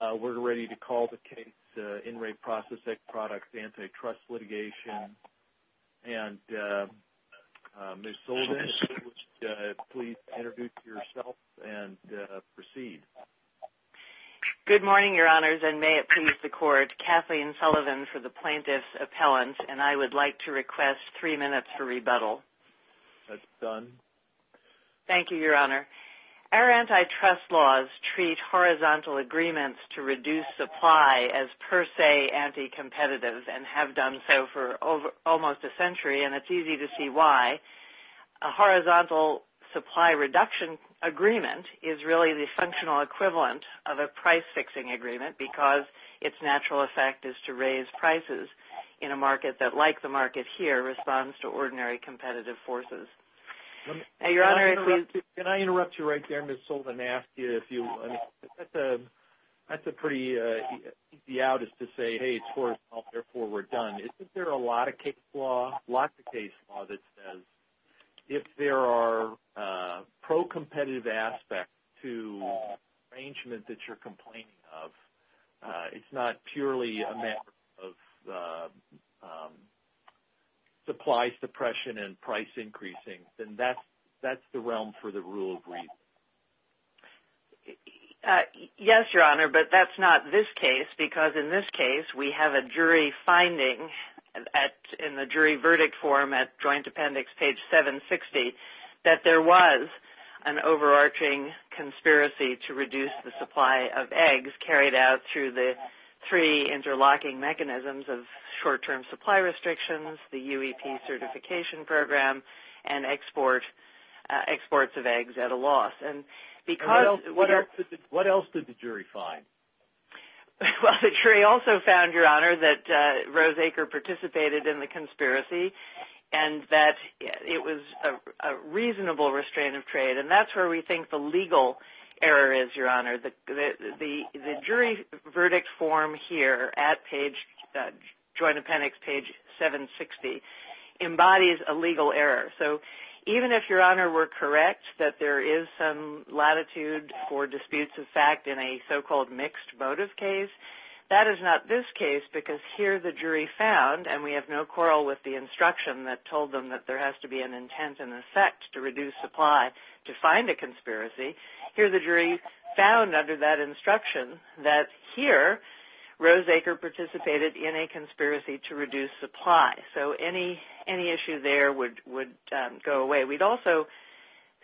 We're ready to call the case, In Re Processed Egg Products Antitrust Litigation, and Ms. Sullivan, if you would please introduce yourself and proceed. Good morning, Your Honors, and may it please the Court, Kathleen Sullivan for the Plaintiff's Appellant, and I would like to request three minutes for rebuttal. That's done. Thank you, Your Honor. Our antitrust laws treat horizontal agreements to reduce supply as per se anti-competitive and have done so for almost a century, and it's easy to see why. A horizontal supply reduction agreement is really the functional equivalent of a price fixing agreement because its natural effect is to raise prices in a market that, like the market here, responds to ordinary competitive forces. Can I interrupt you right there, Ms. Sullivan, and ask you, that's a pretty easy out is to say, hey, it's horizontal, therefore we're done. Isn't there a lot of case law, lots of case law that says if there are pro-competitive aspects to an arrangement that you're complaining of, it's not purely a matter of supply suppression and price increasing, then that's the realm for the rule of reason. Yes, Your Honor, but that's not this case because in this case, we have a jury finding in the jury verdict form at Joint Appendix, page 760, that there was an overarching conspiracy to reduce the supply of eggs carried out through the three interlocking mechanisms of short-term supply restrictions, the UEP certification program, and exports of eggs at a loss. What else did the jury find? Well, the jury also found, Your Honor, that Rose Aker participated in the conspiracy and that it was a reasonable restraint of trade, and that's where we think the legal error is, Your Honor. The jury verdict form here at Joint Appendix, page 760, embodies a legal error. Even if, Your Honor, we're correct that there is some latitude for disputes of fact in a so-called mixed motive case, that is not this case because here the jury found, and we have no quarrel with the instruction that told them that there has to be an intent and effect to reduce supply to find a conspiracy, here the jury found under that instruction that here Rose Aker participated in a conspiracy to reduce supply. So any issue there would go away. We'd also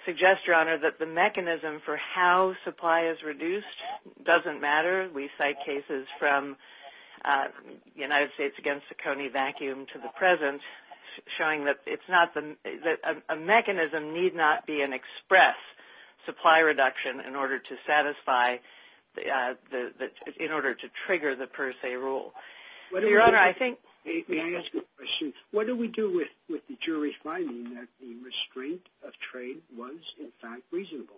suggest, Your Honor, that the mechanism for how supply is reduced doesn't matter. We cite cases from the United States against the Coney vacuum to the present showing that a mechanism need not be an express supply reduction in order to trigger the per se rule. May I ask a question? What do we do with the jury's finding that the restraint of trade was, in fact, reasonable?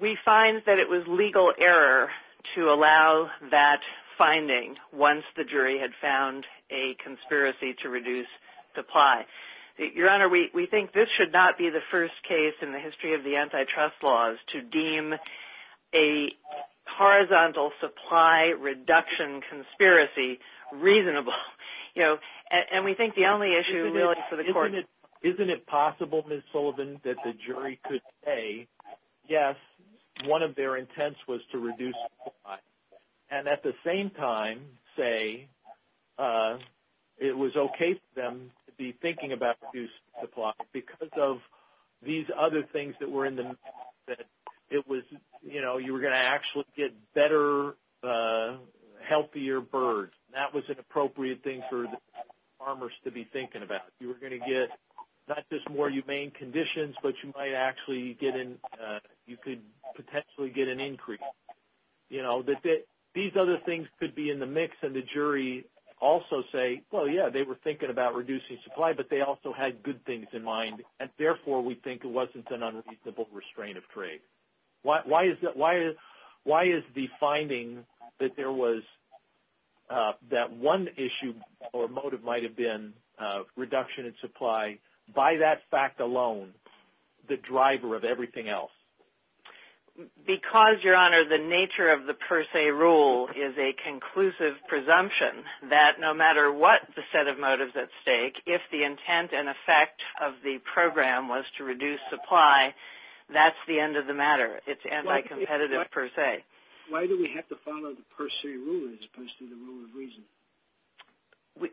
We find that it was legal error to allow that finding once the jury had found a conspiracy to reduce supply. Your Honor, we think this should not be the first case in the history of the antitrust laws to deem a horizontal supply reduction conspiracy reasonable, and we think the only issue really for the court... Isn't it possible, Ms. Sullivan, that the jury could say, yes, one of their intents was to reduce supply, and at the same time say it was okay for them to be thinking about reduced supply because of these other things that were in the... It was, you know, you were going to actually get better, healthier birds. That was an appropriate thing for the farmers to be thinking about. You were going to get not just more humane conditions, but you might actually get in... You know, that these other things could be in the mix, and the jury also say, well, yeah, they were thinking about reducing supply, but they also had good things in mind, and therefore we think it wasn't an unreasonable restraint of trade. Why is the finding that there was... That one issue or motive might have been reduction in supply, by that fact alone, the driver of everything else? Because, Your Honor, the nature of the per se rule is a conclusive presumption that no matter what the set of motives at stake, if the intent and effect of the program was to reduce supply, that's the end of the matter. It's anti-competitive per se. Why do we have to follow the per se rule as opposed to the rule of reason?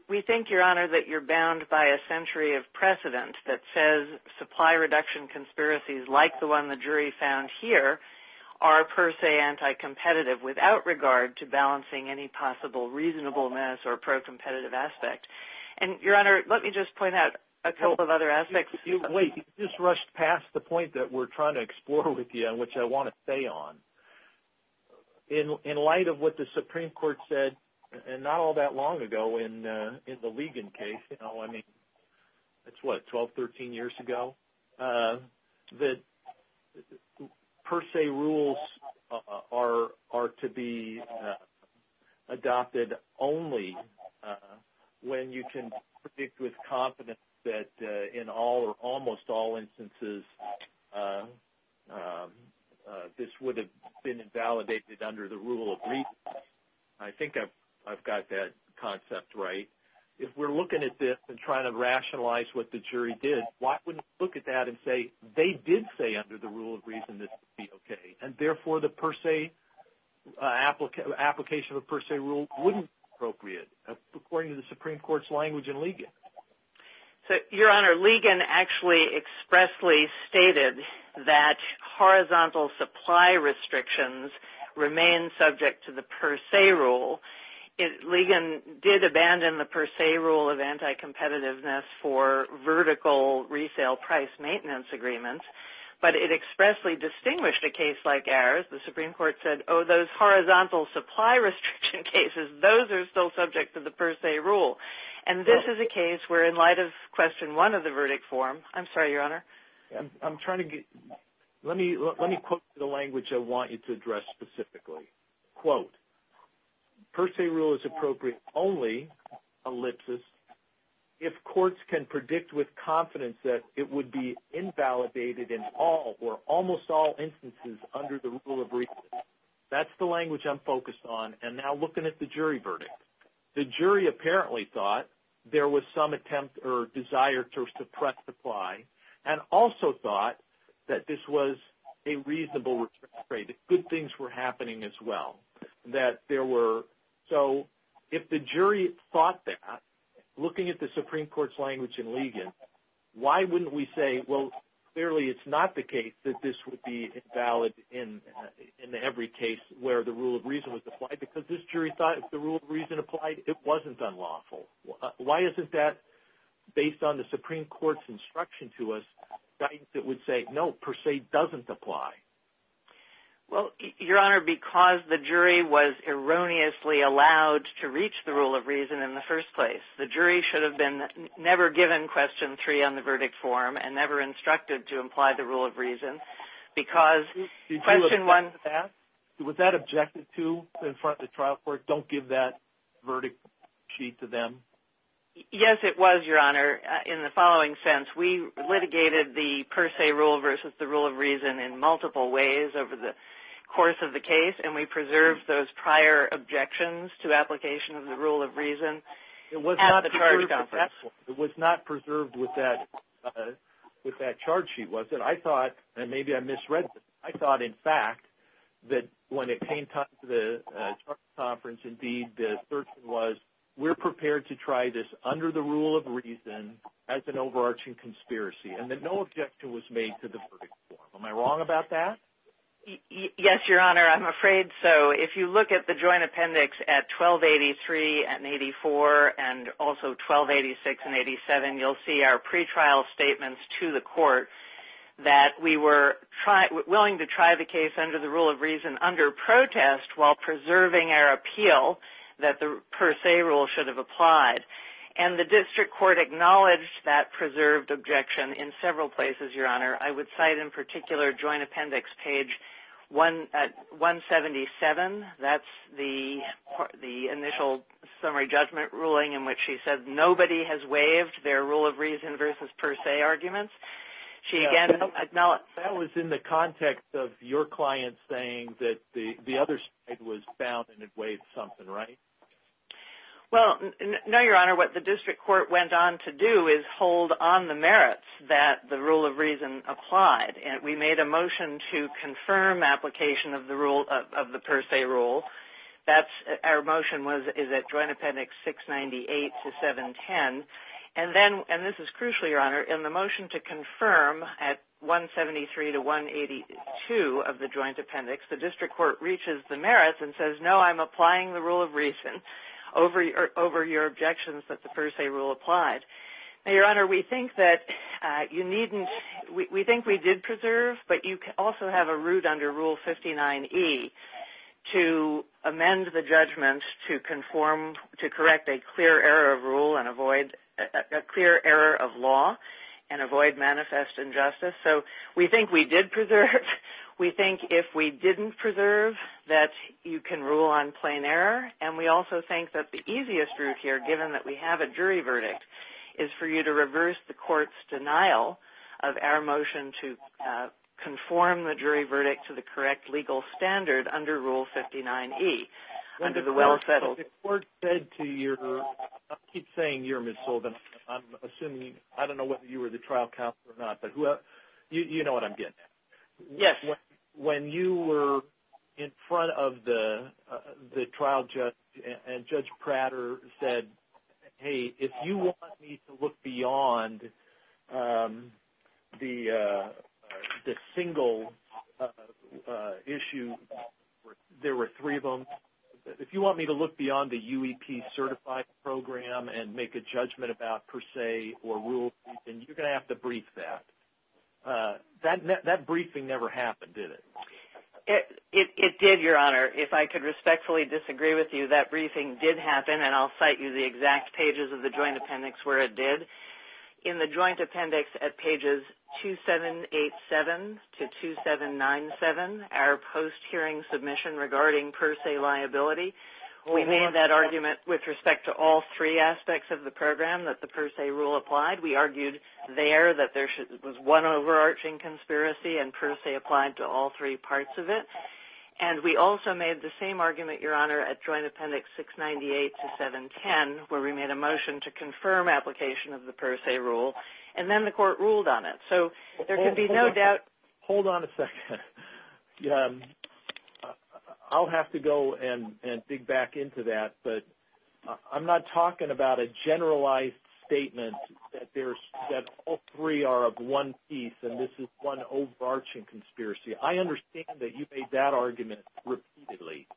We think, Your Honor, that you're bound by a century of precedent that says supply reduction conspiracies, like the one the jury found here, are per se anti-competitive without regard to balancing any possible reasonableness or pro-competitive aspect. And, Your Honor, let me just point out a couple of other aspects. Wait, you just rushed past the point that we're trying to explore with you, which I want to stay on. In light of what the Supreme Court said not all that long ago in the Ligon case, you know, that's what, 12, 13 years ago, that per se rules are to be adopted only when you can predict with confidence that in all or almost all instances this would have been invalidated under the rule of reason. I think I've got that concept right. If we're looking at this and trying to rationalize what the jury did, why wouldn't we look at that and say, they did say under the rule of reason this would be okay, and therefore the per se, application of a per se rule wouldn't be appropriate, according to the Supreme Court's language in Ligon. So, Your Honor, Ligon actually expressly stated that horizontal supply restrictions remain subject to the per se rule. Ligon did abandon the per se rule of anti-competitiveness for vertical resale price maintenance agreements, but it expressly distinguished a case like ours. The Supreme Court said, oh, those horizontal supply restriction cases, those are still subject to the per se rule. And this is a case where in light of question one of the verdict form, I'm sorry, Your Honor. I'm trying to get, let me quote the language I want you to address specifically. Quote. Per se rule is appropriate only, ellipsis, if courts can predict with confidence that it would be invalidated in all or almost all instances under the rule of reason. That's the language I'm focused on. And now looking at the jury verdict. The jury apparently thought there was some attempt or desire to suppress supply and also thought that this was a reasonable return trade, good things were happening as well. That there were, so if the jury thought that, looking at the Supreme Court's language in Ligon, why wouldn't we say, well, clearly it's not the case that this would be valid in every case where the rule of reason was applied. Because this jury thought if the rule of reason applied, it wasn't unlawful. Why isn't that, based on the Supreme Court's instruction to us, guidance that would say, no, per se doesn't apply? Well, Your Honor, because the jury was erroneously allowed to reach the rule of reason in the first place. The jury should have been never given question three on the verdict form and never instructed to imply the rule of reason because question one. Did you object to that? Was that objected to in front of the trial court? Don't give that verdict sheet to them? Yes, it was, Your Honor, in the following sense. We litigated the per se rule versus the rule of reason in multiple ways over the course of the case and we preserved those prior objections to application of the rule of reason at the charge conference. It was not preserved with that charge sheet, was it? I thought, and maybe I misread this, I thought, in fact, that when it came to the charge conference, indeed, the assertion was, we're prepared to try this under the rule of reason as an overarching conspiracy and that no objection was made to the verdict form. Am I wrong about that? Yes, Your Honor, I'm afraid so. If you look at the joint appendix at 1283 and 84 and also 1286 and 87, you'll see our pretrial statements to the court that we were willing to try the case under the rule of reason under protest while preserving our appeal that the per se rule should have applied. The district court acknowledged that preserved objection in several places, Your Honor. I would cite in particular joint appendix page 177. That's the initial summary judgment ruling in which she said nobody has waived their rule of reason versus per se arguments. That was in the context of your client saying that the other side was found and it waived something, right? Well, no, Your Honor. What the district court went on to do is hold on the merits that the rule of reason applied. We made a motion to confirm application of the per se rule. Our motion is at joint appendix 698 to 710. And this is crucial, Your Honor. In the motion to confirm at 173 to 182 of the joint appendix, the district court reaches the merits and says, no, I'm applying the rule of reason over your objections that the per se rule applied. Now, Your Honor, we think that you needn't – we think we did preserve, but you also have a root under Rule 59E to amend the judgment to conform – to correct a clear error of rule and avoid – a clear error of law and avoid manifest injustice. So we think we did preserve. We think if we didn't preserve that you can rule on plain error. And we also think that the easiest route here, given that we have a jury verdict, is for you to reverse the court's denial of our motion to conform the jury verdict to the correct legal standard under Rule 59E under the well-settled – The court said to your – I keep saying your, Ms. Sullivan. I'm assuming – I don't know whether you were the trial counsel or not, but you know what I'm getting at. Yes. When you were in front of the trial judge and Judge Prater said, hey, if you want me to look beyond the single issue – there were three of them – if you want me to look beyond the UEP certified program and make a judgment about per se or rule of reason, you're going to have to brief that. That briefing never happened, did it? It did, Your Honor. If I could respectfully disagree with you, that briefing did happen, and I'll cite you the exact pages of the joint appendix where it did. In the joint appendix at pages 2787 to 2797, our post-hearing submission regarding per se liability, we made that argument with respect to all three aspects of the program that the per se rule applied. We argued there that there was one overarching conspiracy and per se applied to all three parts of it, and we also made the same argument, Your Honor, at joint appendix 698 to 710, where we made a motion to confirm application of the per se rule, and then the court ruled on it. So there could be no doubt – Hold on a second. I'll have to go and dig back into that, but I'm not talking about a generalized statement that all three are of one piece and this is one overarching conspiracy. I understand that you made that argument repeatedly.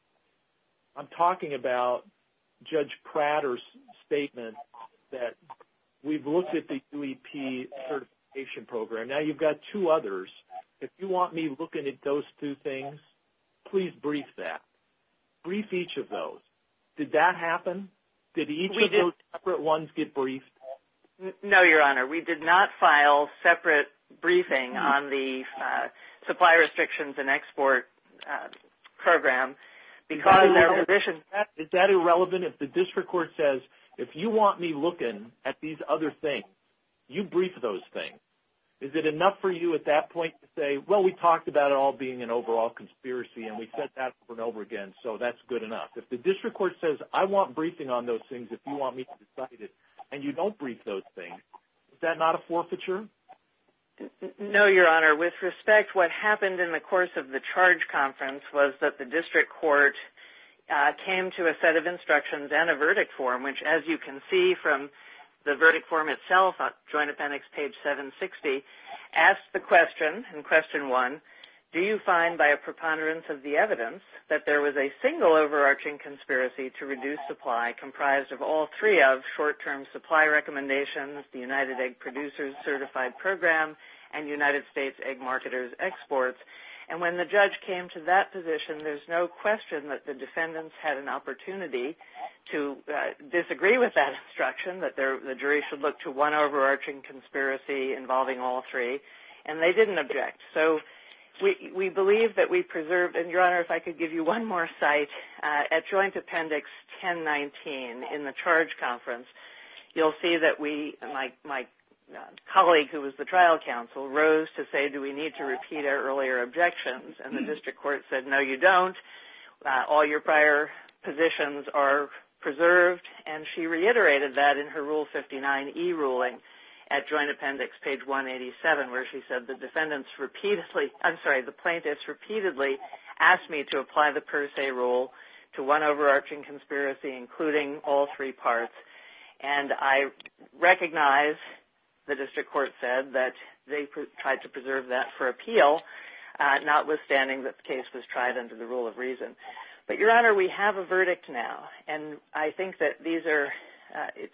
I'm talking about Judge Prater's statement that we've looked at the QEP certification program. Now you've got two others. If you want me looking at those two things, please brief that. Brief each of those. Did that happen? Did each of those separate ones get briefed? No, Your Honor. We did not file separate briefing on the supply restrictions and export program because of their position. Is that irrelevant? If the district court says, if you want me looking at these other things, you brief those things. Is it enough for you at that point to say, well, we talked about it all being an overall conspiracy and we said that over and over again, so that's good enough? If the district court says, I want briefing on those things if you want me to decide it and you don't brief those things, is that not a forfeiture? No, Your Honor. With respect, what happened in the course of the charge conference was that the district court came to a set of instructions and a verdict form, which as you can see from the verdict form itself on Joint Appendix page 760, asked the question in question one, do you find by a preponderance of the evidence that there was a single overarching conspiracy to reduce supply comprised of all three of short-term supply recommendations, the United Egg Producers Certified Program, and United States Egg Marketers Exports? And when the judge came to that position, there's no question that the defendants had an opportunity to disagree with that instruction, that the jury should look to one overarching conspiracy involving all three, and they didn't object. So we believe that we preserved, and Your Honor, if I could give you one more site, at Joint Appendix 1019 in the charge conference, you'll see that we, my colleague who was the trial counsel, rose to say, do we need to repeat our earlier objections? And the district court said, no, you don't. All your prior positions are preserved. And she reiterated that in her Rule 59e ruling at Joint Appendix page 187 where she said the plaintiffs repeatedly asked me to apply the per se rule to one overarching conspiracy including all three parts. And I recognize the district court said that they tried to preserve that for appeal, not withstanding that the case was tried under the rule of reason. But Your Honor, we have a verdict now. And I think that these are,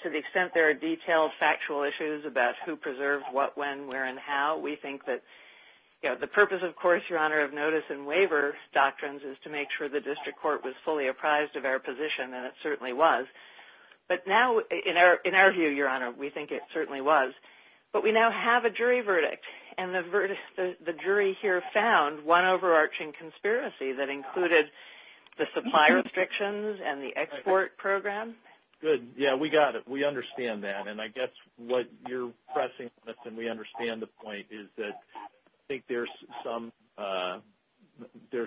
to the extent there are detailed factual issues about who the plaintiff is, the purpose, of course, Your Honor, of notice and waiver doctrines is to make sure the district court was fully apprised of our position. And it certainly was. But now, in our view, Your Honor, we think it certainly was. But we now have a jury verdict. And the jury here found one overarching conspiracy that included the supply restrictions and the export program. Good. Yeah, we got it. We understand that. I guess what you're pressing on us, and we understand the point, is that I think there's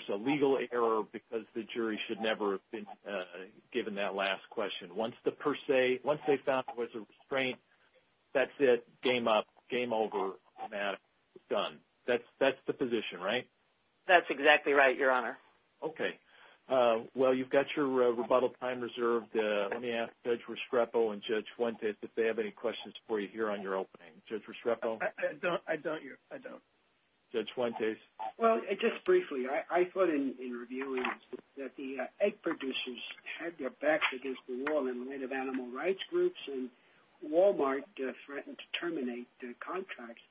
a legal error because the jury should never have been given that last question. Once the per se, once they found there was a restraint, that's it. Game up. Game over. Automatic. Done. That's the position, right? That's exactly right, Your Honor. Okay. Well, you've got your rebuttal time reserved. Let me ask Judge Restrepo and Judge Fuentes if they have any questions for you here on your opening. Judge Restrepo? I don't, Your Honor. I don't. Judge Fuentes? Well, just briefly, I thought in reviewing that the egg producers had their backs against the wall in the name of animal rights groups. And Walmart threatened to terminate the contracts.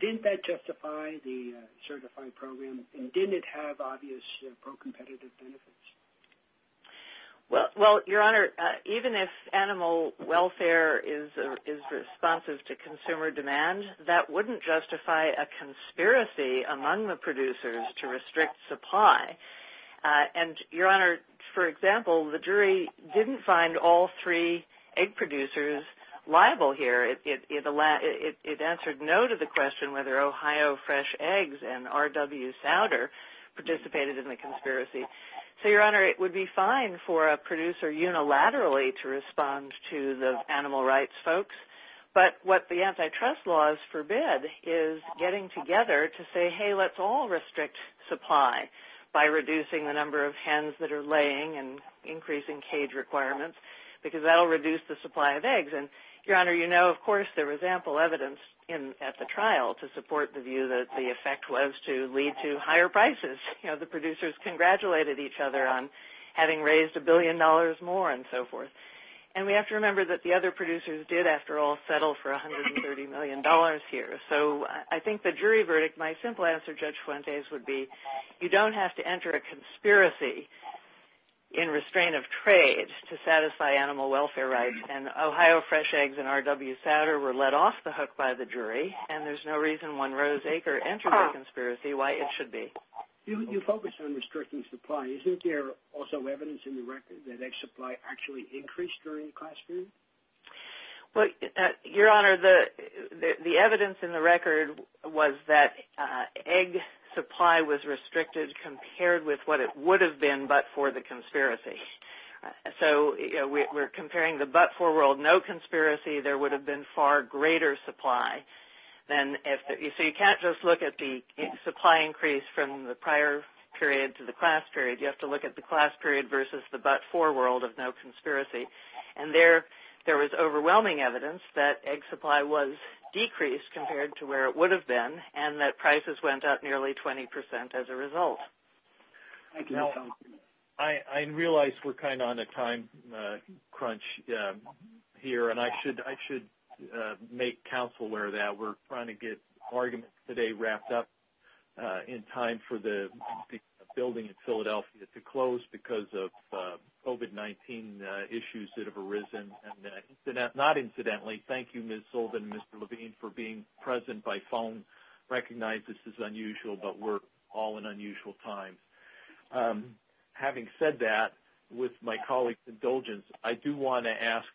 Didn't that justify the certified program? And didn't it have obvious pro-competitive benefits? Well, Your Honor, even if animal welfare is responsive to consumer demand, that wouldn't justify a conspiracy among the producers to restrict supply. And, Your Honor, for example, the jury didn't find all three egg producers liable here. It answered no to the question whether Ohio Fresh Eggs and RW Souder participated in the conspiracy. So, Your Honor, it would be fine for a producer unilaterally to respond to the animal rights folks. But what the antitrust laws forbid is getting together to say, hey, let's all restrict supply by reducing the number of hens that are laying and increasing cage requirements because that will reduce the supply of eggs. And, Your Honor, you know, of course, there was ample evidence at the trial to support the view that the effect was to lead to higher prices. You know, the producers congratulated each other on having raised a billion dollars more and so forth. And we have to remember that the other producers did, after all, settle for $130 million here. So I think the jury verdict, my simple answer, Judge Fuentes, would be you don't have to enter a conspiracy in restraint of trade to satisfy animal welfare rights. And Ohio Fresh Eggs and RW Souder were let off the hook by the jury. And there's no reason one rose acre entered a conspiracy why it should be. You focus on restricting supply. Isn't there also evidence in the record that egg supply actually increased during the class period? Well, Your Honor, the evidence in the record was that egg supply was restricted compared with what it would have been but for the conspiracy. So, you know, we're comparing the but for world, no conspiracy, there would have been far greater supply. So you can't just look at the supply increase from the prior period to the class period. You have to look at the class period versus the but for world of no conspiracy. And there was overwhelming evidence that egg supply was decreased compared to where it would have been and that prices went up nearly 20% as a result. Thank you. I realize we're kind of on a time crunch here and I should make counsel aware that we're trying to get arguments today wrapped up in time for the building in Philadelphia to close because of COVID-19 issues that have arisen. And not incidentally, thank you, Ms. Sullivan and Mr. Levine for being present by phone. Recognize this is unusual, but we're all in unusual times. Having said that, with my colleague's indulgence, I do want to ask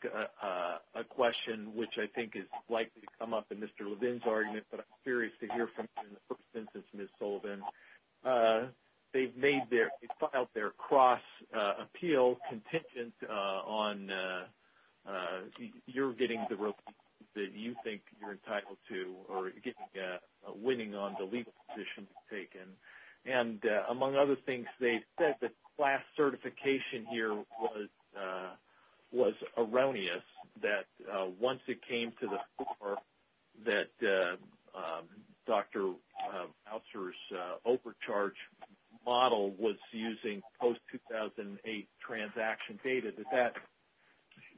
a question which I think is likely to come up in Mr. Levine's argument, but I'm curious to hear from you in the first instance, Ms. Sullivan. They've made their, they've filed their cross appeal contingent on your getting the winning on the legal position taken. And among other things, they said the class certification here was erroneous that once it came to the fore that Dr. Ouster's overcharge model was using post-2008 transaction data,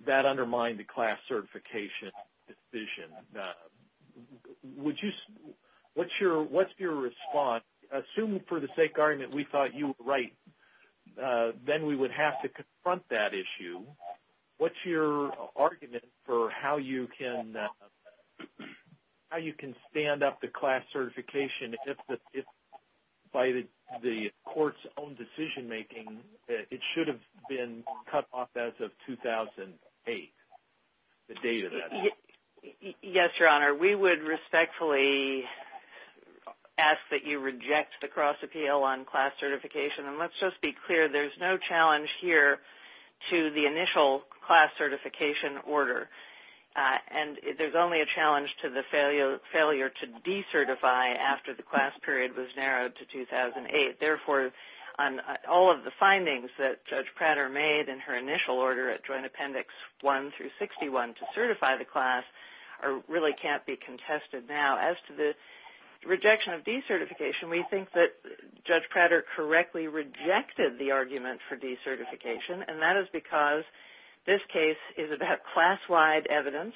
that undermined the class certification decision. And would you, what's your response? Assuming for the sake argument we thought you were right, then we would have to confront that issue. What's your argument for how you can stand up the class certification if by the court's own decision making, it should have been cut off as of 2008, the date of that? Yes, Your Honor, we would respectfully ask that you reject the cross appeal on class certification. And let's just be clear, there's no challenge here to the initial class certification order. And there's only a challenge to the failure to decertify after the class period was narrowed to 2008. Therefore, on all of the findings that Judge Prater made in her initial order at Joint Class really can't be contested now. As to the rejection of decertification, we think that Judge Prater correctly rejected the argument for decertification. And that is because this case is about class-wide evidence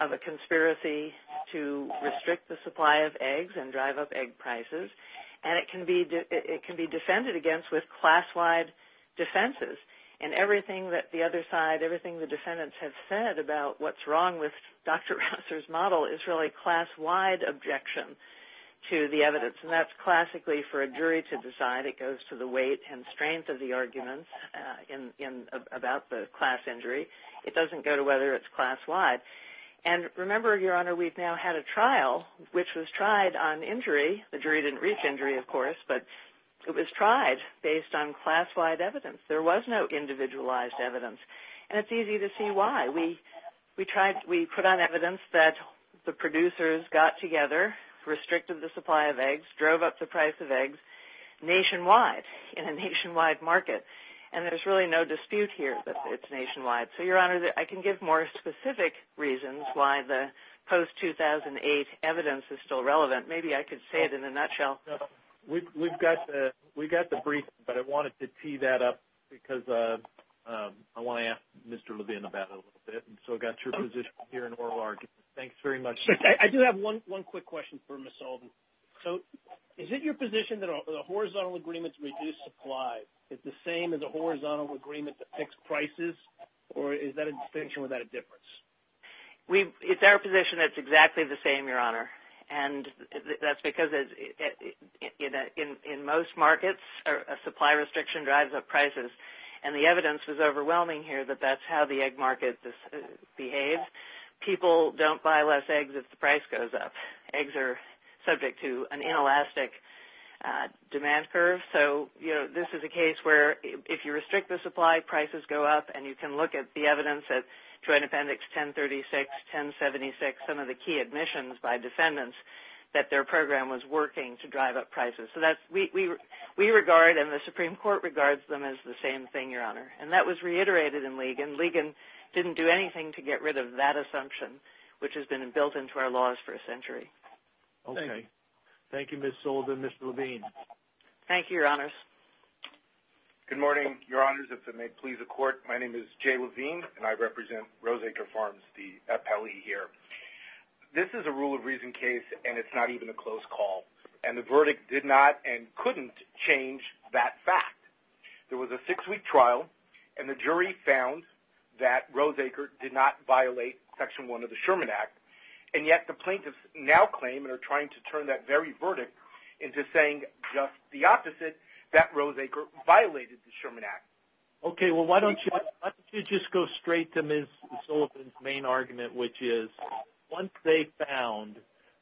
of a conspiracy to restrict the supply of eggs and drive up egg prices. And it can be defended against with class-wide defenses. And everything that the other side, everything the defendants have said about what's wrong with Dr. Rausser's model is really class-wide objection to the evidence. And that's classically for a jury to decide. It goes to the weight and strength of the argument about the class injury. It doesn't go to whether it's class-wide. And remember, Your Honor, we've now had a trial which was tried on injury. The jury didn't reach injury, of course, but it was tried based on class-wide evidence. There was no individualized evidence. And it's easy to see why. We put on evidence that the producers got together, restricted the supply of eggs, drove up the price of eggs nationwide in a nationwide market. And there's really no dispute here that it's nationwide. So, Your Honor, I can give more specific reasons why the post-2008 evidence is still relevant. Maybe I could say it in a nutshell. We've got the brief, but I wanted to tee that up because I want to ask Mr. Levine about it a little bit. And so, I've got your position here in oral argument. Thanks very much. I do have one quick question for Ms. Alden. So, is it your position that a horizontal agreement to reduce supply is the same as a horizontal agreement to fix prices? Or is that a distinction without a difference? It's our position it's exactly the same, Your Honor. And that's because in most markets, a supply restriction drives up prices. And the evidence was overwhelming here that that's how the egg market behaves. People don't buy less eggs if the price goes up. Eggs are subject to an inelastic demand curve. So, this is a case where if you restrict the supply, prices go up. And you can look at the evidence at Joint Appendix 1036, 1076, some of the key admissions by defendants, that their program was working to drive up prices. So, we regard and the Supreme Court regards them as the same thing, Your Honor. And that was reiterated in Ligon. Ligon didn't do anything to get rid of that assumption, which has been built into our laws for a century. Okay. Thank you, Ms. Alden. Mr. Levine. Thank you, Your Honors. Good morning, Your Honors. If it may please the Court, my name is Jay Levine and I represent Roseacre Farms, the appellee here. This is a rule of reason case and it's not even a close call. And the verdict did not and couldn't change that fact. There was a six-week trial and the jury found that Roseacre did not violate Section 1 of the Sherman Act. And yet, the plaintiffs now claim and are trying to turn that very verdict into saying just the opposite, that Roseacre violated the Sherman Act. Okay. Well, why don't you just go straight to Ms. Sullivan's main argument, which is, once they found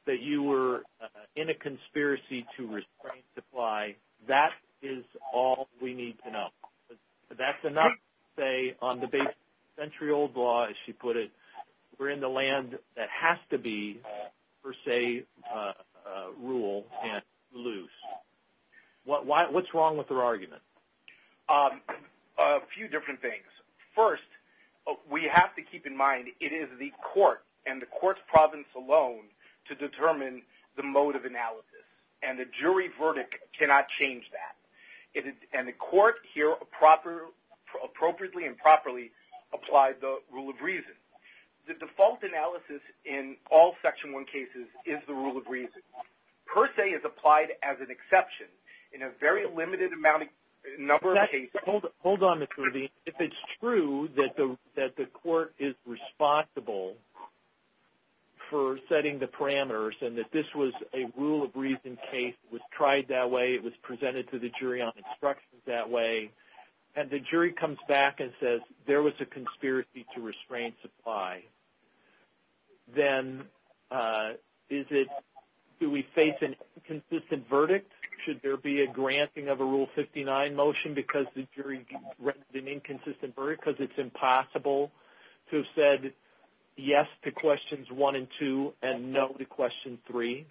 that you were in a conspiracy to restrain supply, that is all we need to know. That's enough to say on the basis of century-old law, as she put it, we're in the land that has to be, per se, a rule and loose. What's wrong with her argument? A few different things. First, we have to keep in mind it is the Court and the Court's province alone to determine the mode of analysis. And the jury verdict cannot change that. And the Court here appropriately and properly applied the rule of reason. The default analysis in all Section 1 cases is the rule of reason, per se, is applied as an exception in a very limited number of cases. Hold on, Mr. Levine. If it's true that the Court is responsible for setting the parameters and that this was a rule of reason case, it was tried that way, it was presented to the jury on instructions that way, and the jury comes back and says there was a conspiracy to restrain supply, then is it, do we face an inconsistent verdict? Should there be a granting of a Rule 59 motion because the jury granted an inconsistent verdict? Because it's impossible to have said yes to questions 1 and 2 and no to question 3?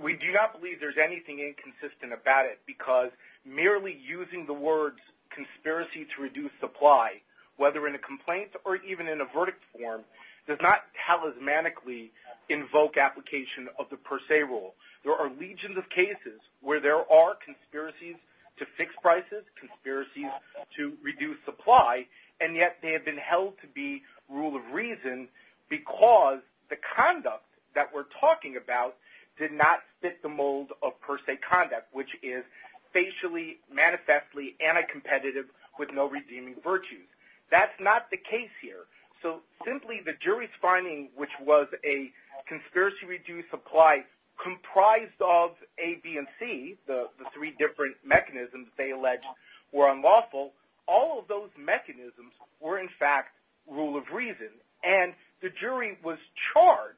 We do not believe there's anything inconsistent about it because merely using the words conspiracy to reduce supply, whether in a complaint or even in a verdict form, does not talismanically invoke application of the per se rule. There are legions of cases where there are conspiracies to fix prices, conspiracies to reduce supply, and yet they have been held to be rule of reason because the conduct that we're talking about did not fit the mold of per se conduct, which is facially, manifestly, anti-competitive with no redeeming virtues. That's not the case here. So simply the jury's finding, which was a conspiracy to reduce supply comprised of A, B, and C, the three different mechanisms they alleged were unlawful, all of those mechanisms were in fact rule of reason. And the jury was charged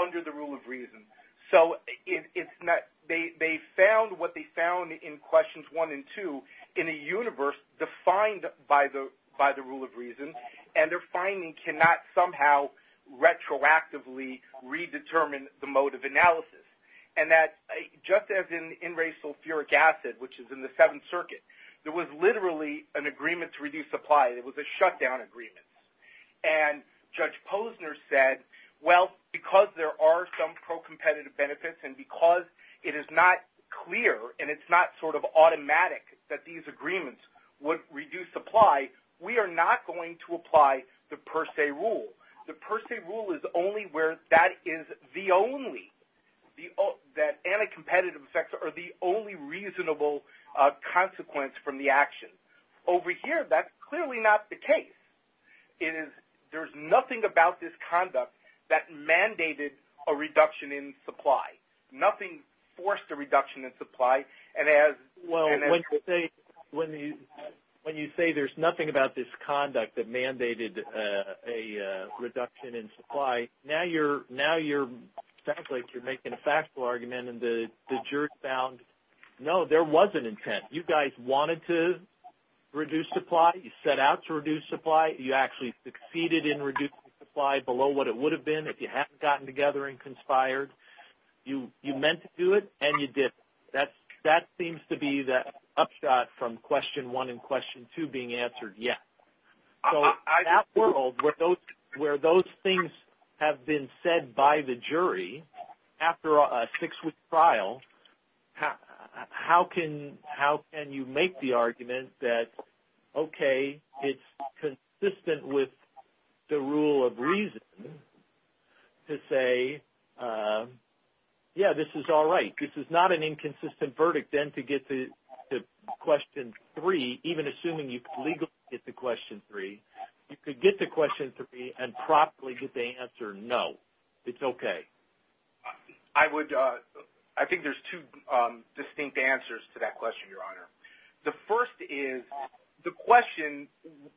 under the rule of reason. So they found what they found in questions 1 and 2 in a universe defined by the rule of reason, and their finding cannot somehow retroactively redetermine the mode of analysis. And just as in enraged sulfuric acid, which is in the Seventh Circuit, there was literally an agreement to reduce supply. It was a shutdown agreement. And Judge Posner said, well, because there are some pro-competitive benefits and because it is not clear and it's not sort of automatic that these agreements would reduce supply, we are not going to apply the per se rule. The per se rule is only where that is the only, that anti-competitive effects are the only reasonable consequence from the action. Over here, that's clearly not the case. It is, there's nothing about this conduct that mandated a reduction in supply. Nothing forced a reduction in supply. And as- Well, when you say there's nothing about this conduct that mandated a reduction in supply, now you're making a factual argument and the jury found, no, there was an intent. You guys wanted to reduce supply. You set out to reduce supply. You actually succeeded in reducing supply below what it would have been if you hadn't gotten together and conspired. You meant to do it and you didn't. That seems to be the upshot from question one and question two being answered, yes. So in that world where those things have been said by the jury after a six-week trial, how can you make the argument that, okay, it's consistent with the rule of reason to say, yeah, this is all right. This is not an inconsistent verdict. Then to get to question three, even assuming you could legally get to question three, you could get to question three and properly get the answer, no, it's okay. I think there's two distinct answers to that question, Your Honor. The first is the question,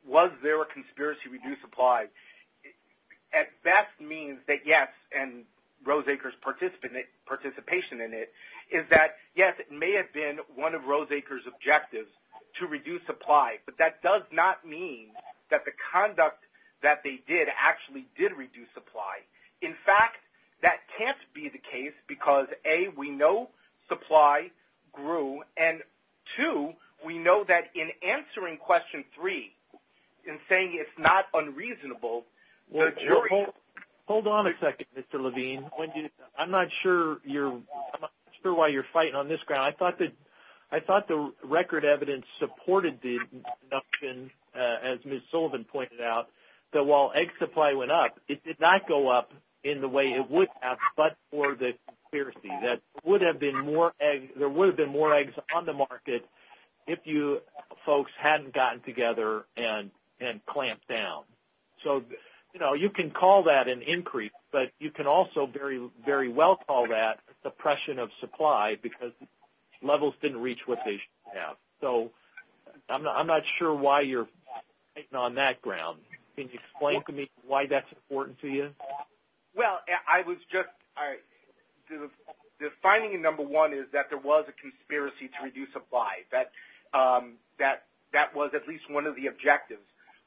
was there a conspiracy to reduce supply, at best means that yes, and Roseacre's participation in it is that, yes, it may have been one of Roseacre's objectives to reduce supply, but that does not mean that the conduct that they did actually did reduce supply. In fact, that can't be the case because, A, we know supply grew, and two, we know that in answering question three and saying it's not unreasonable, the jury- Hold on a second, Mr. Levine. I'm not sure why you're fighting on this ground. I thought the record evidence supported the deduction, as Ms. Sullivan pointed out, that while egg supply went up, it did not go up in the way it would have, but for the conspiracy. There would have been more eggs on the market if you folks hadn't gotten together and clamped down. You can call that an increase, but you can also very well call that a suppression of supply because levels didn't reach what they should have. I'm not sure why you're fighting on that ground. Can you explain to me why that's important to you? Well, the finding in number one is that there was a conspiracy to reduce supply. That was at least one of the objectives,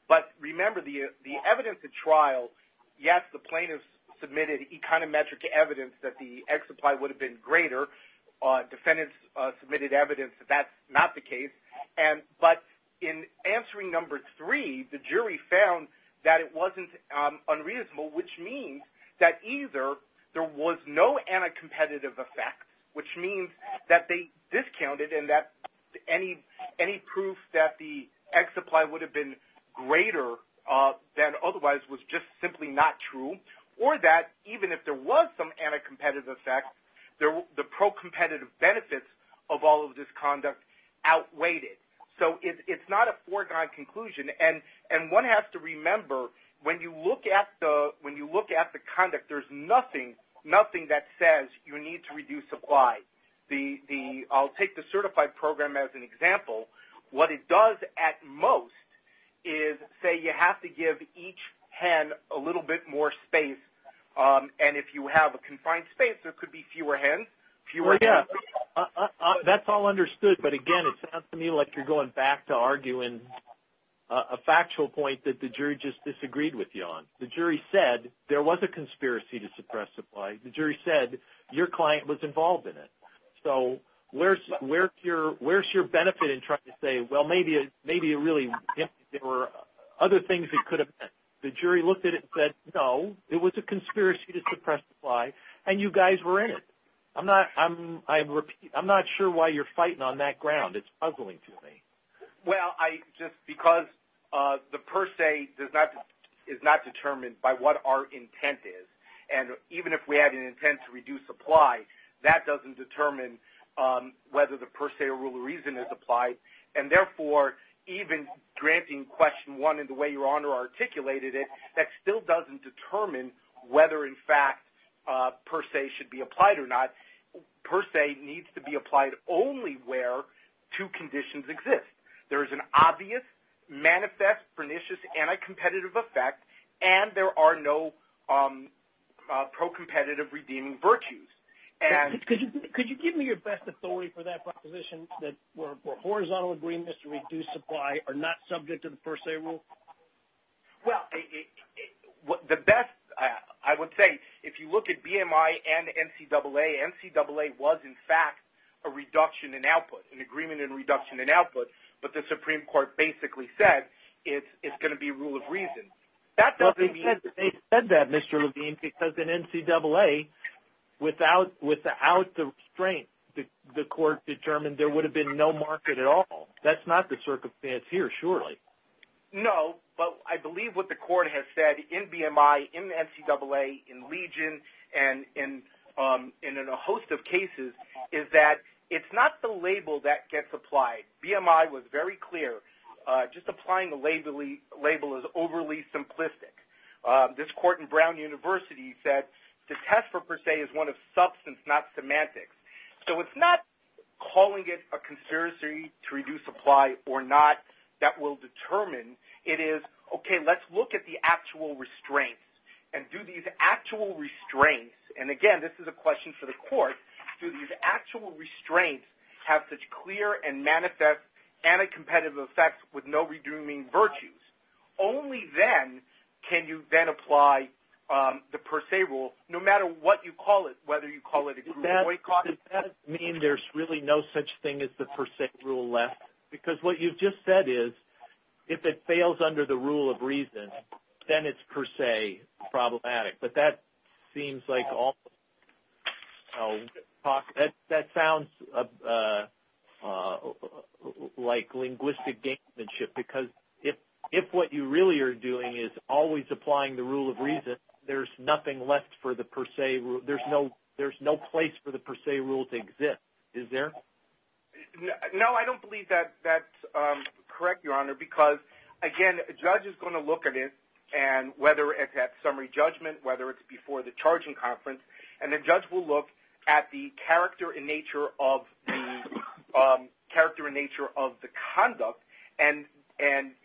but remember the evidence at trial, yes, the plaintiffs submitted econometric evidence that the egg supply would have been greater. Defendants submitted evidence that that's not the case, but in answering number three, the jury found that it wasn't unreasonable, which means that either there was no anti-competitive effect, which means that they discounted and that any proof that the egg supply would have been greater than otherwise was just simply not true, or that even if there was some anti-competitive effect, the pro-competitive benefits of all of this conduct outweighed it. It's not a foregone conclusion, and one has to remember when you look at the conduct, there's nothing that says you need to reduce supply. I'll take the certified program as an example. What it does at most is say you have to give each hen a little bit more space, and if you have a confined space, there could be fewer hens. Well, yeah, that's all understood, but again, it sounds to me like you're going back to arguing a factual point that the jury just disagreed with you on. The jury said there was a conspiracy to suppress supply. The jury said your client was involved in it, so where's your benefit in trying to say, well, maybe there were other things it could have meant. The jury looked at it and said, no, it was a conspiracy to suppress supply, and you guys were in it. I'm not sure why you're fighting on that ground. It's puzzling to me. Well, just because the per se is not determined by what our intent is, and even if we had an intent to reduce supply, that doesn't determine whether the per se or rule of reason is applied, and therefore, even granting question one in the way Your Honor articulated it, that still doesn't determine whether, in fact, per se should be applied or not. Per se needs to be applied only where two conditions exist. There is an obvious, manifest, pernicious, anti-competitive effect, and there are no pro-competitive redeeming virtues. Could you give me your best authority for that proposition that where horizontal agreements to reduce supply are not subject to the per se rule? Well, the best, I would say, if you look at BMI and NCAA, NCAA was, in fact, a reduction in output, an agreement in reduction in output, but the Supreme Court basically said it's going to be rule of reason. Well, they said that, Mr. Levine, because in NCAA, without the restraint, the Court determined there would have been no market at all. That's not the circumstance here, surely. No, but I believe what the Court has said in BMI, in NCAA, in Legion, and in a host of cases, is that it's not the label that gets applied. BMI was very clear. Just applying a label is overly simplistic. This Court in Brown University said the test for per se is one of substance, not semantics. So it's not calling it a conspiracy to reduce supply or not that will determine. It is, okay, let's look at the actual restraints and do these actual restraints, and again, this is a question for the Court, do these actual restraints have such clear and manifest anti-competitive effects with no redeeming virtues? Only then can you then apply the per se rule, no matter what you call it, whether you call it a boycott. Does that mean there's really no such thing as the per se rule left? Because what you've just said is, if it fails under the rule of reason, then it's per se problematic. But that seems like almost, that sounds like linguistic gamemanship, because if what you really are doing is always applying the rule of reason, there's nothing left for the per se rule to exist, is there? No, I don't believe that's correct, Your Honor, because again, a judge is going to look at it, and whether it's at summary judgment, whether it's before the charging conference, and the judge will look at the character and nature of the conduct, and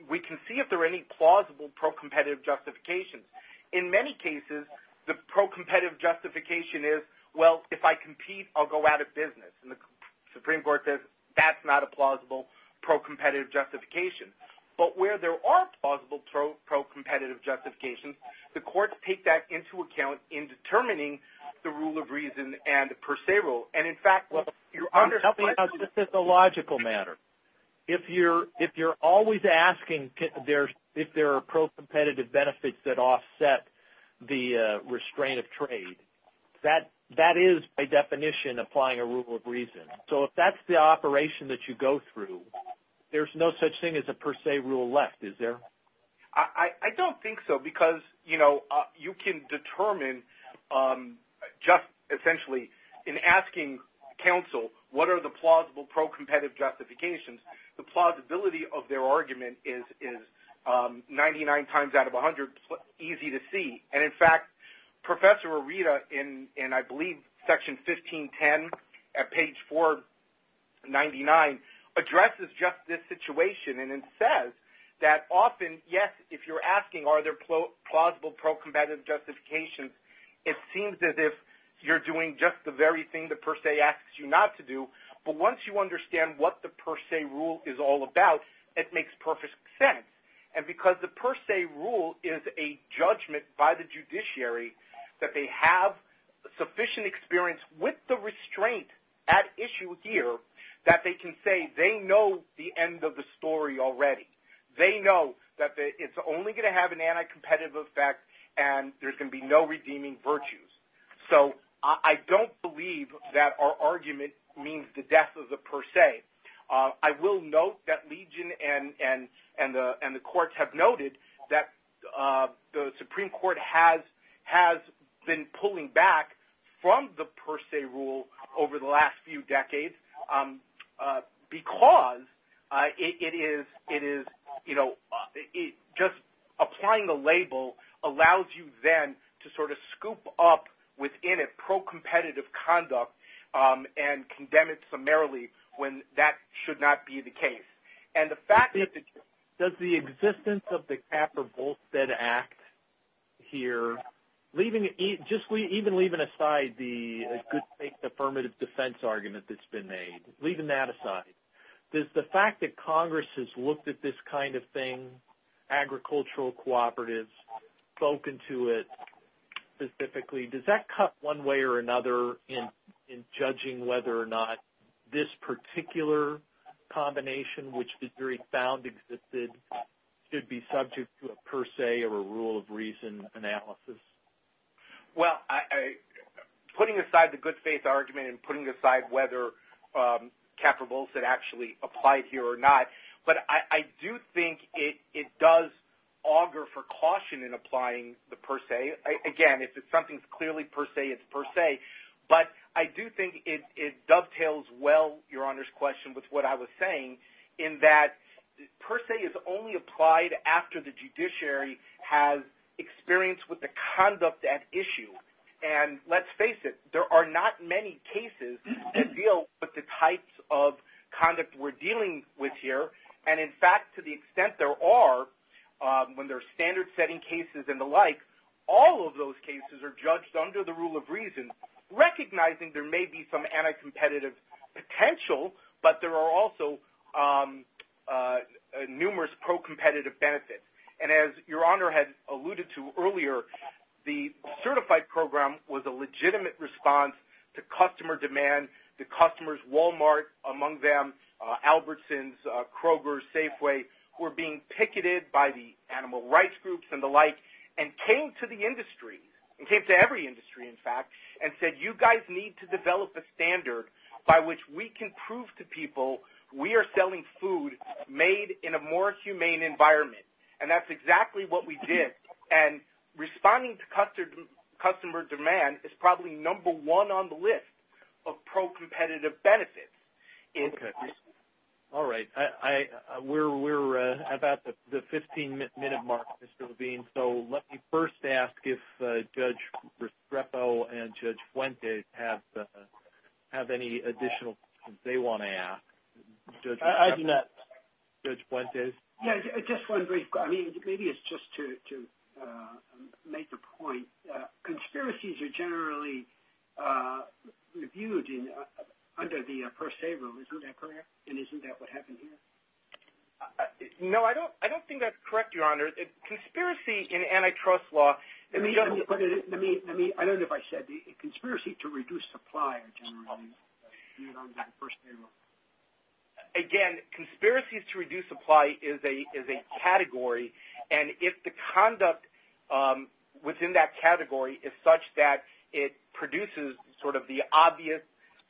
we can see if there are any plausible pro-competitive justifications. In many cases, the pro-competitive justification is, well, if I compete, I'll go out of business. And the Supreme Court says, that's not a plausible pro-competitive justification. But where there are plausible pro-competitive justifications, the courts take that into account in determining the rule of reason and the per se rule. And in fact, what you're under- Help me out, this is a logical matter. If you're always asking if there are pro-competitive benefits that offset the restraint of trade, that is, by definition, applying a rule of reason. So if that's the operation that you go through, there's no such thing as a per se rule left, is there? I don't think so, because you can determine just essentially in asking counsel, what are the plausible pro-competitive justifications, the plausibility of their argument is 99 times out of 100 easy to see. And in fact, Professor Arita, in I believe section 1510 at page 499, addresses just this situation. And it says that often, yes, if you're asking are there plausible pro-competitive justifications, it seems as if you're doing just the very thing the per se asks you not to do. But once you understand what the per se rule is all about, it makes perfect sense. And because the per se rule is a judgment by the judiciary that they have sufficient experience with the restraint at issue here, that they can say they know the end of the story already. They know that it's only going to have an anti-competitive effect and there's going to be no redeeming virtues. So I don't believe that our argument means the death of the per se. I will note that Legion and the courts have noted that the Supreme Court has been pulling back from the per se rule over the last few decades, because it is just applying the label allows you then to sort of scoop up within it pro-competitive conduct and condemn it summarily when that should not be the case. And the fact that the... Does the existence of the Capper-Bolstead Act here, even leaving aside the good faith affirmative defense argument that's been made, leaving that aside, does the fact that you've spoken to it specifically, does that cut one way or another in judging whether or not this particular combination, which is very found existed, should be subject to a per se or a rule of reason analysis? Well, putting aside the good faith argument and putting aside whether Capper-Bolstead actually applied here or not, but I do think it does augur for caution in applying the per se. Again, if it's something clearly per se, it's per se. But I do think it dovetails well, Your Honor's question, with what I was saying in that per se is only applied after the judiciary has experience with the conduct at issue. And let's face it, there are not many cases that deal with the types of conduct we're dealing with here. And in fact, to the extent there are, when there are standard setting cases and the like, all of those cases are judged under the rule of reason, recognizing there may be some anti-competitive potential, but there are also numerous pro-competitive benefits. And as Your Honor had alluded to earlier, the certified program was a legitimate response to customer demand. The customers, Walmart among them, Albertsons, Kroger, Safeway, were being picketed by the animal rights groups and the like, and came to the industry, and came to every industry in fact, and said, you guys need to develop a standard by which we can prove to people we are selling food made in a more humane environment. And that's exactly what we did. And responding to customer demand is probably number one on the list of pro-competitive benefits. All right, we're about the 15-minute mark, Mr. Levine. So let me first ask if Judge Restrepo and Judge Fuentes have any additional questions they want to ask. I do not. Judge Fuentes? Yeah, just one brief question. I mean, maybe it's just to make a point. Conspiracies are generally reviewed under the first A rule, isn't that correct? And isn't that what happened here? No, I don't think that's correct, Your Honor. Conspiracy in antitrust law... I don't know if I said the conspiracy to reduce supply. Again, conspiracies to reduce supply is a category. And if the conduct within that category is such that it produces sort of the obvious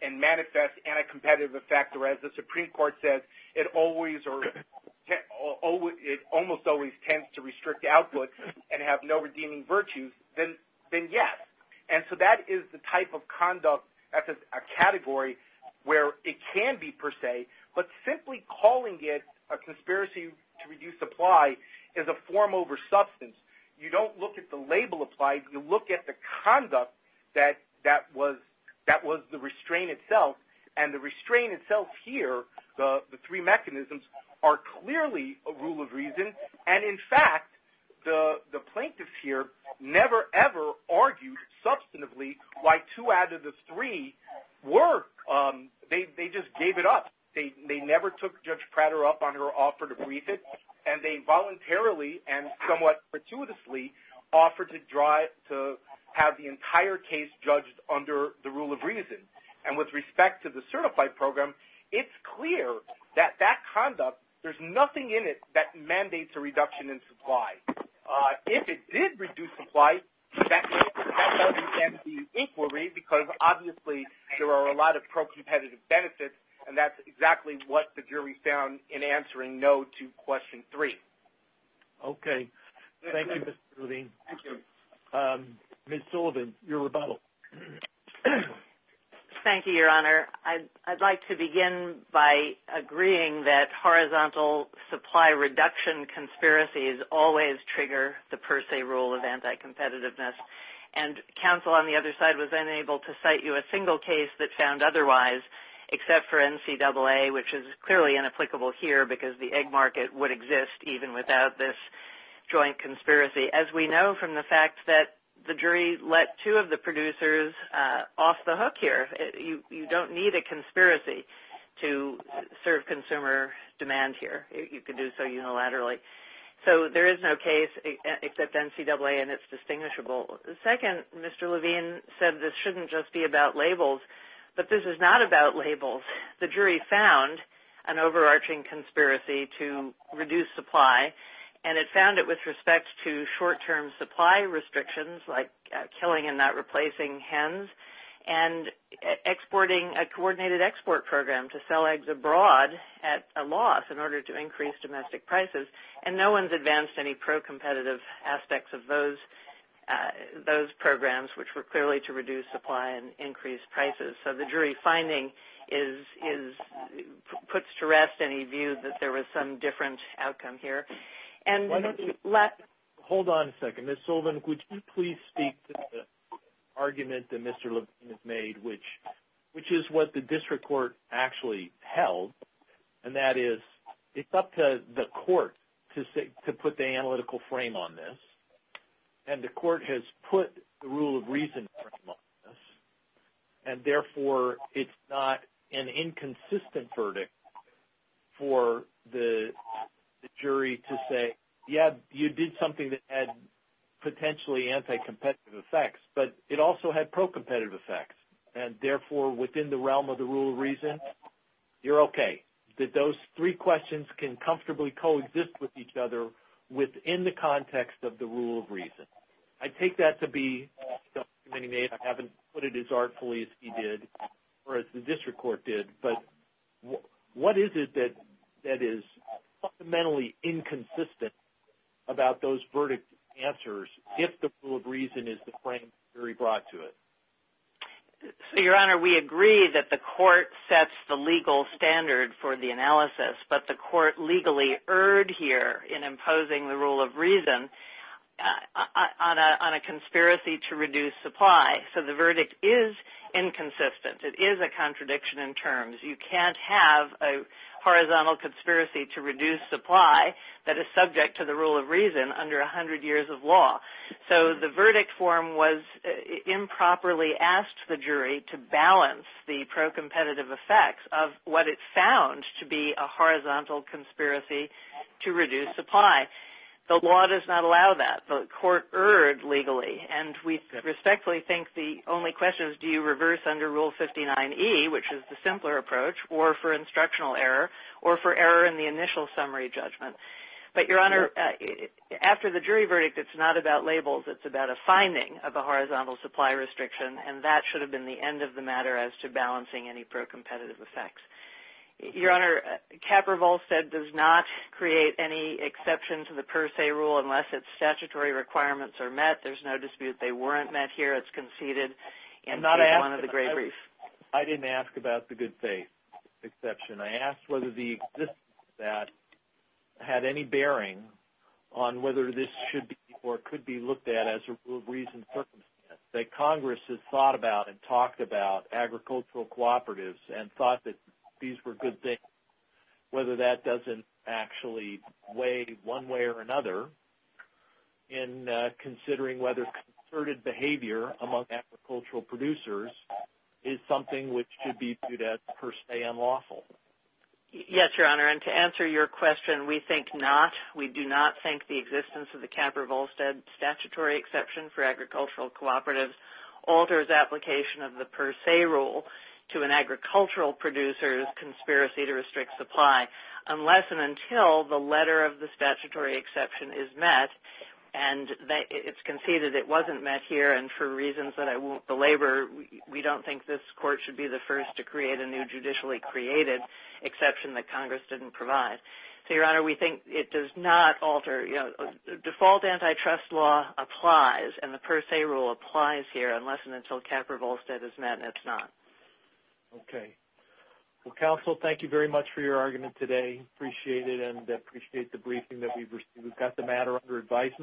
and manifest anti-competitive effect, or as the Supreme Court says, it almost always tends to restrict output and have no redeeming virtues, then yes. And so that is the type of conduct that's a category where it can be per se. But simply calling it a conspiracy to reduce supply is a form over substance. You don't look at the label applied. You look at the conduct that was the restraint itself. And the restraint itself here, the three mechanisms, are clearly a rule of reason. And in fact, the plaintiffs here never ever argued substantively why two out of the three were... They just gave it up. They never took Judge Prater up on her offer to brief it. And they voluntarily and somewhat gratuitously offered to have the entire case judged under the rule of reason. And with respect to the certified program, it's clear that that conduct, there's nothing in it that mandates a reduction in supply. If it did reduce supply, that doesn't end the inquiry, because obviously there are a lot of pro-competitive benefits, and that's exactly what the jury found in answering no to question three. Okay. Thank you, Mr. Levine. Thank you. Ms. Sullivan, your rebuttal. Thank you, Your Honor. I'd like to begin by agreeing that horizontal supply reduction conspiracies always trigger the per se rule of anti-competitiveness. And counsel on the other side was unable to cite you a single case that found otherwise, except for NCAA, which is clearly inapplicable here because the egg market would exist even without this joint conspiracy. As we know from the fact that the jury let two of the producers off the hook here. You don't need a conspiracy to serve consumer demand here. You can do so unilaterally. So there is no case except NCAA, and it's distinguishable. Second, Mr. Levine said this shouldn't just be about labels, but this is not about labels. The jury found an overarching conspiracy to reduce supply, and it found it with respect to short-term supply restrictions like killing and not replacing hens and exporting a coordinated export program to sell eggs abroad at a loss in order to increase domestic prices. And no one's advanced any pro-competitive aspects of those programs, which were clearly to reduce supply and increase prices. So the jury finding puts to rest any view that there was some different outcome here. And let... Hold on a second. Ms. Sullivan, would you please speak to the argument that Mr. Levine has made, which is what the district court actually held, and that is it's up to the court to put the analytical frame on this. And the court has put the rule of reason frame on this, and therefore it's not an inconsistent verdict for the jury to say, yeah, you did something that had potentially anti-competitive effects, but it also had pro-competitive effects. And therefore, within the realm of the rule of reason, you're okay. That those three questions can comfortably coexist with each other within the context of the rule of reason. I take that to be an argument I haven't put it as artfully as he did or as the district court did. But what is it that is fundamentally inconsistent about those verdict answers if the rule of reason is the frame the jury brought to it? So, Your Honor, we agree that the court sets the legal standard for the analysis, but the court legally erred here in imposing the rule of reason on a conspiracy to reduce supply. So the verdict is inconsistent. It is a contradiction in terms. You can't have a horizontal conspiracy to reduce supply that is subject to the rule of reason under 100 years of law. So the verdict form was improperly asked the jury to balance the pro-competitive effects of what it found to be a horizontal conspiracy to reduce supply. The law does not allow that. The court erred legally. And we respectfully think the only question is do you reverse under Rule 59E, which is the simpler approach, or for instructional error, or for error in the initial summary judgment. But, Your Honor, after the jury verdict, it's not about labels. It's about a finding of a horizontal supply restriction. And that should have been the end of the matter as to balancing any pro-competitive effects. Your Honor, Kapervolstead does not create any exception to the per se rule unless its statutory requirements are met. There's no dispute. They weren't met here. It's conceded in one of the gray briefs. I didn't ask about the good faith exception. I asked whether the existence of that had any bearing on whether this should be or could be looked at as a rule of reason circumstance that Congress has thought about and talked about agricultural cooperatives and thought that these were good things, whether that doesn't actually weigh one way or another in considering whether concerted behavior among agricultural producers is something which should be viewed as per se unlawful. Yes, Your Honor. And to answer your question, we think not. We do not think the existence of the Kapervolstead statutory exception for agricultural cooperatives alters application of the per se rule to an agricultural producer's conspiracy to restrict supply unless and until the letter of the statutory exception is met and it's conceded it wasn't met here and for reasons that I won't belabor, we don't think this court should be the first to create a new judicially created exception that Congress didn't provide. So, Your Honor, we think it does not alter. Default antitrust law applies and the per se rule applies here unless and until Kapervolstead is met and it's not. Okay. Well, counsel, thank you very much for your argument today. Appreciate it and appreciate the briefing that we've received. We've got the matter under advisement.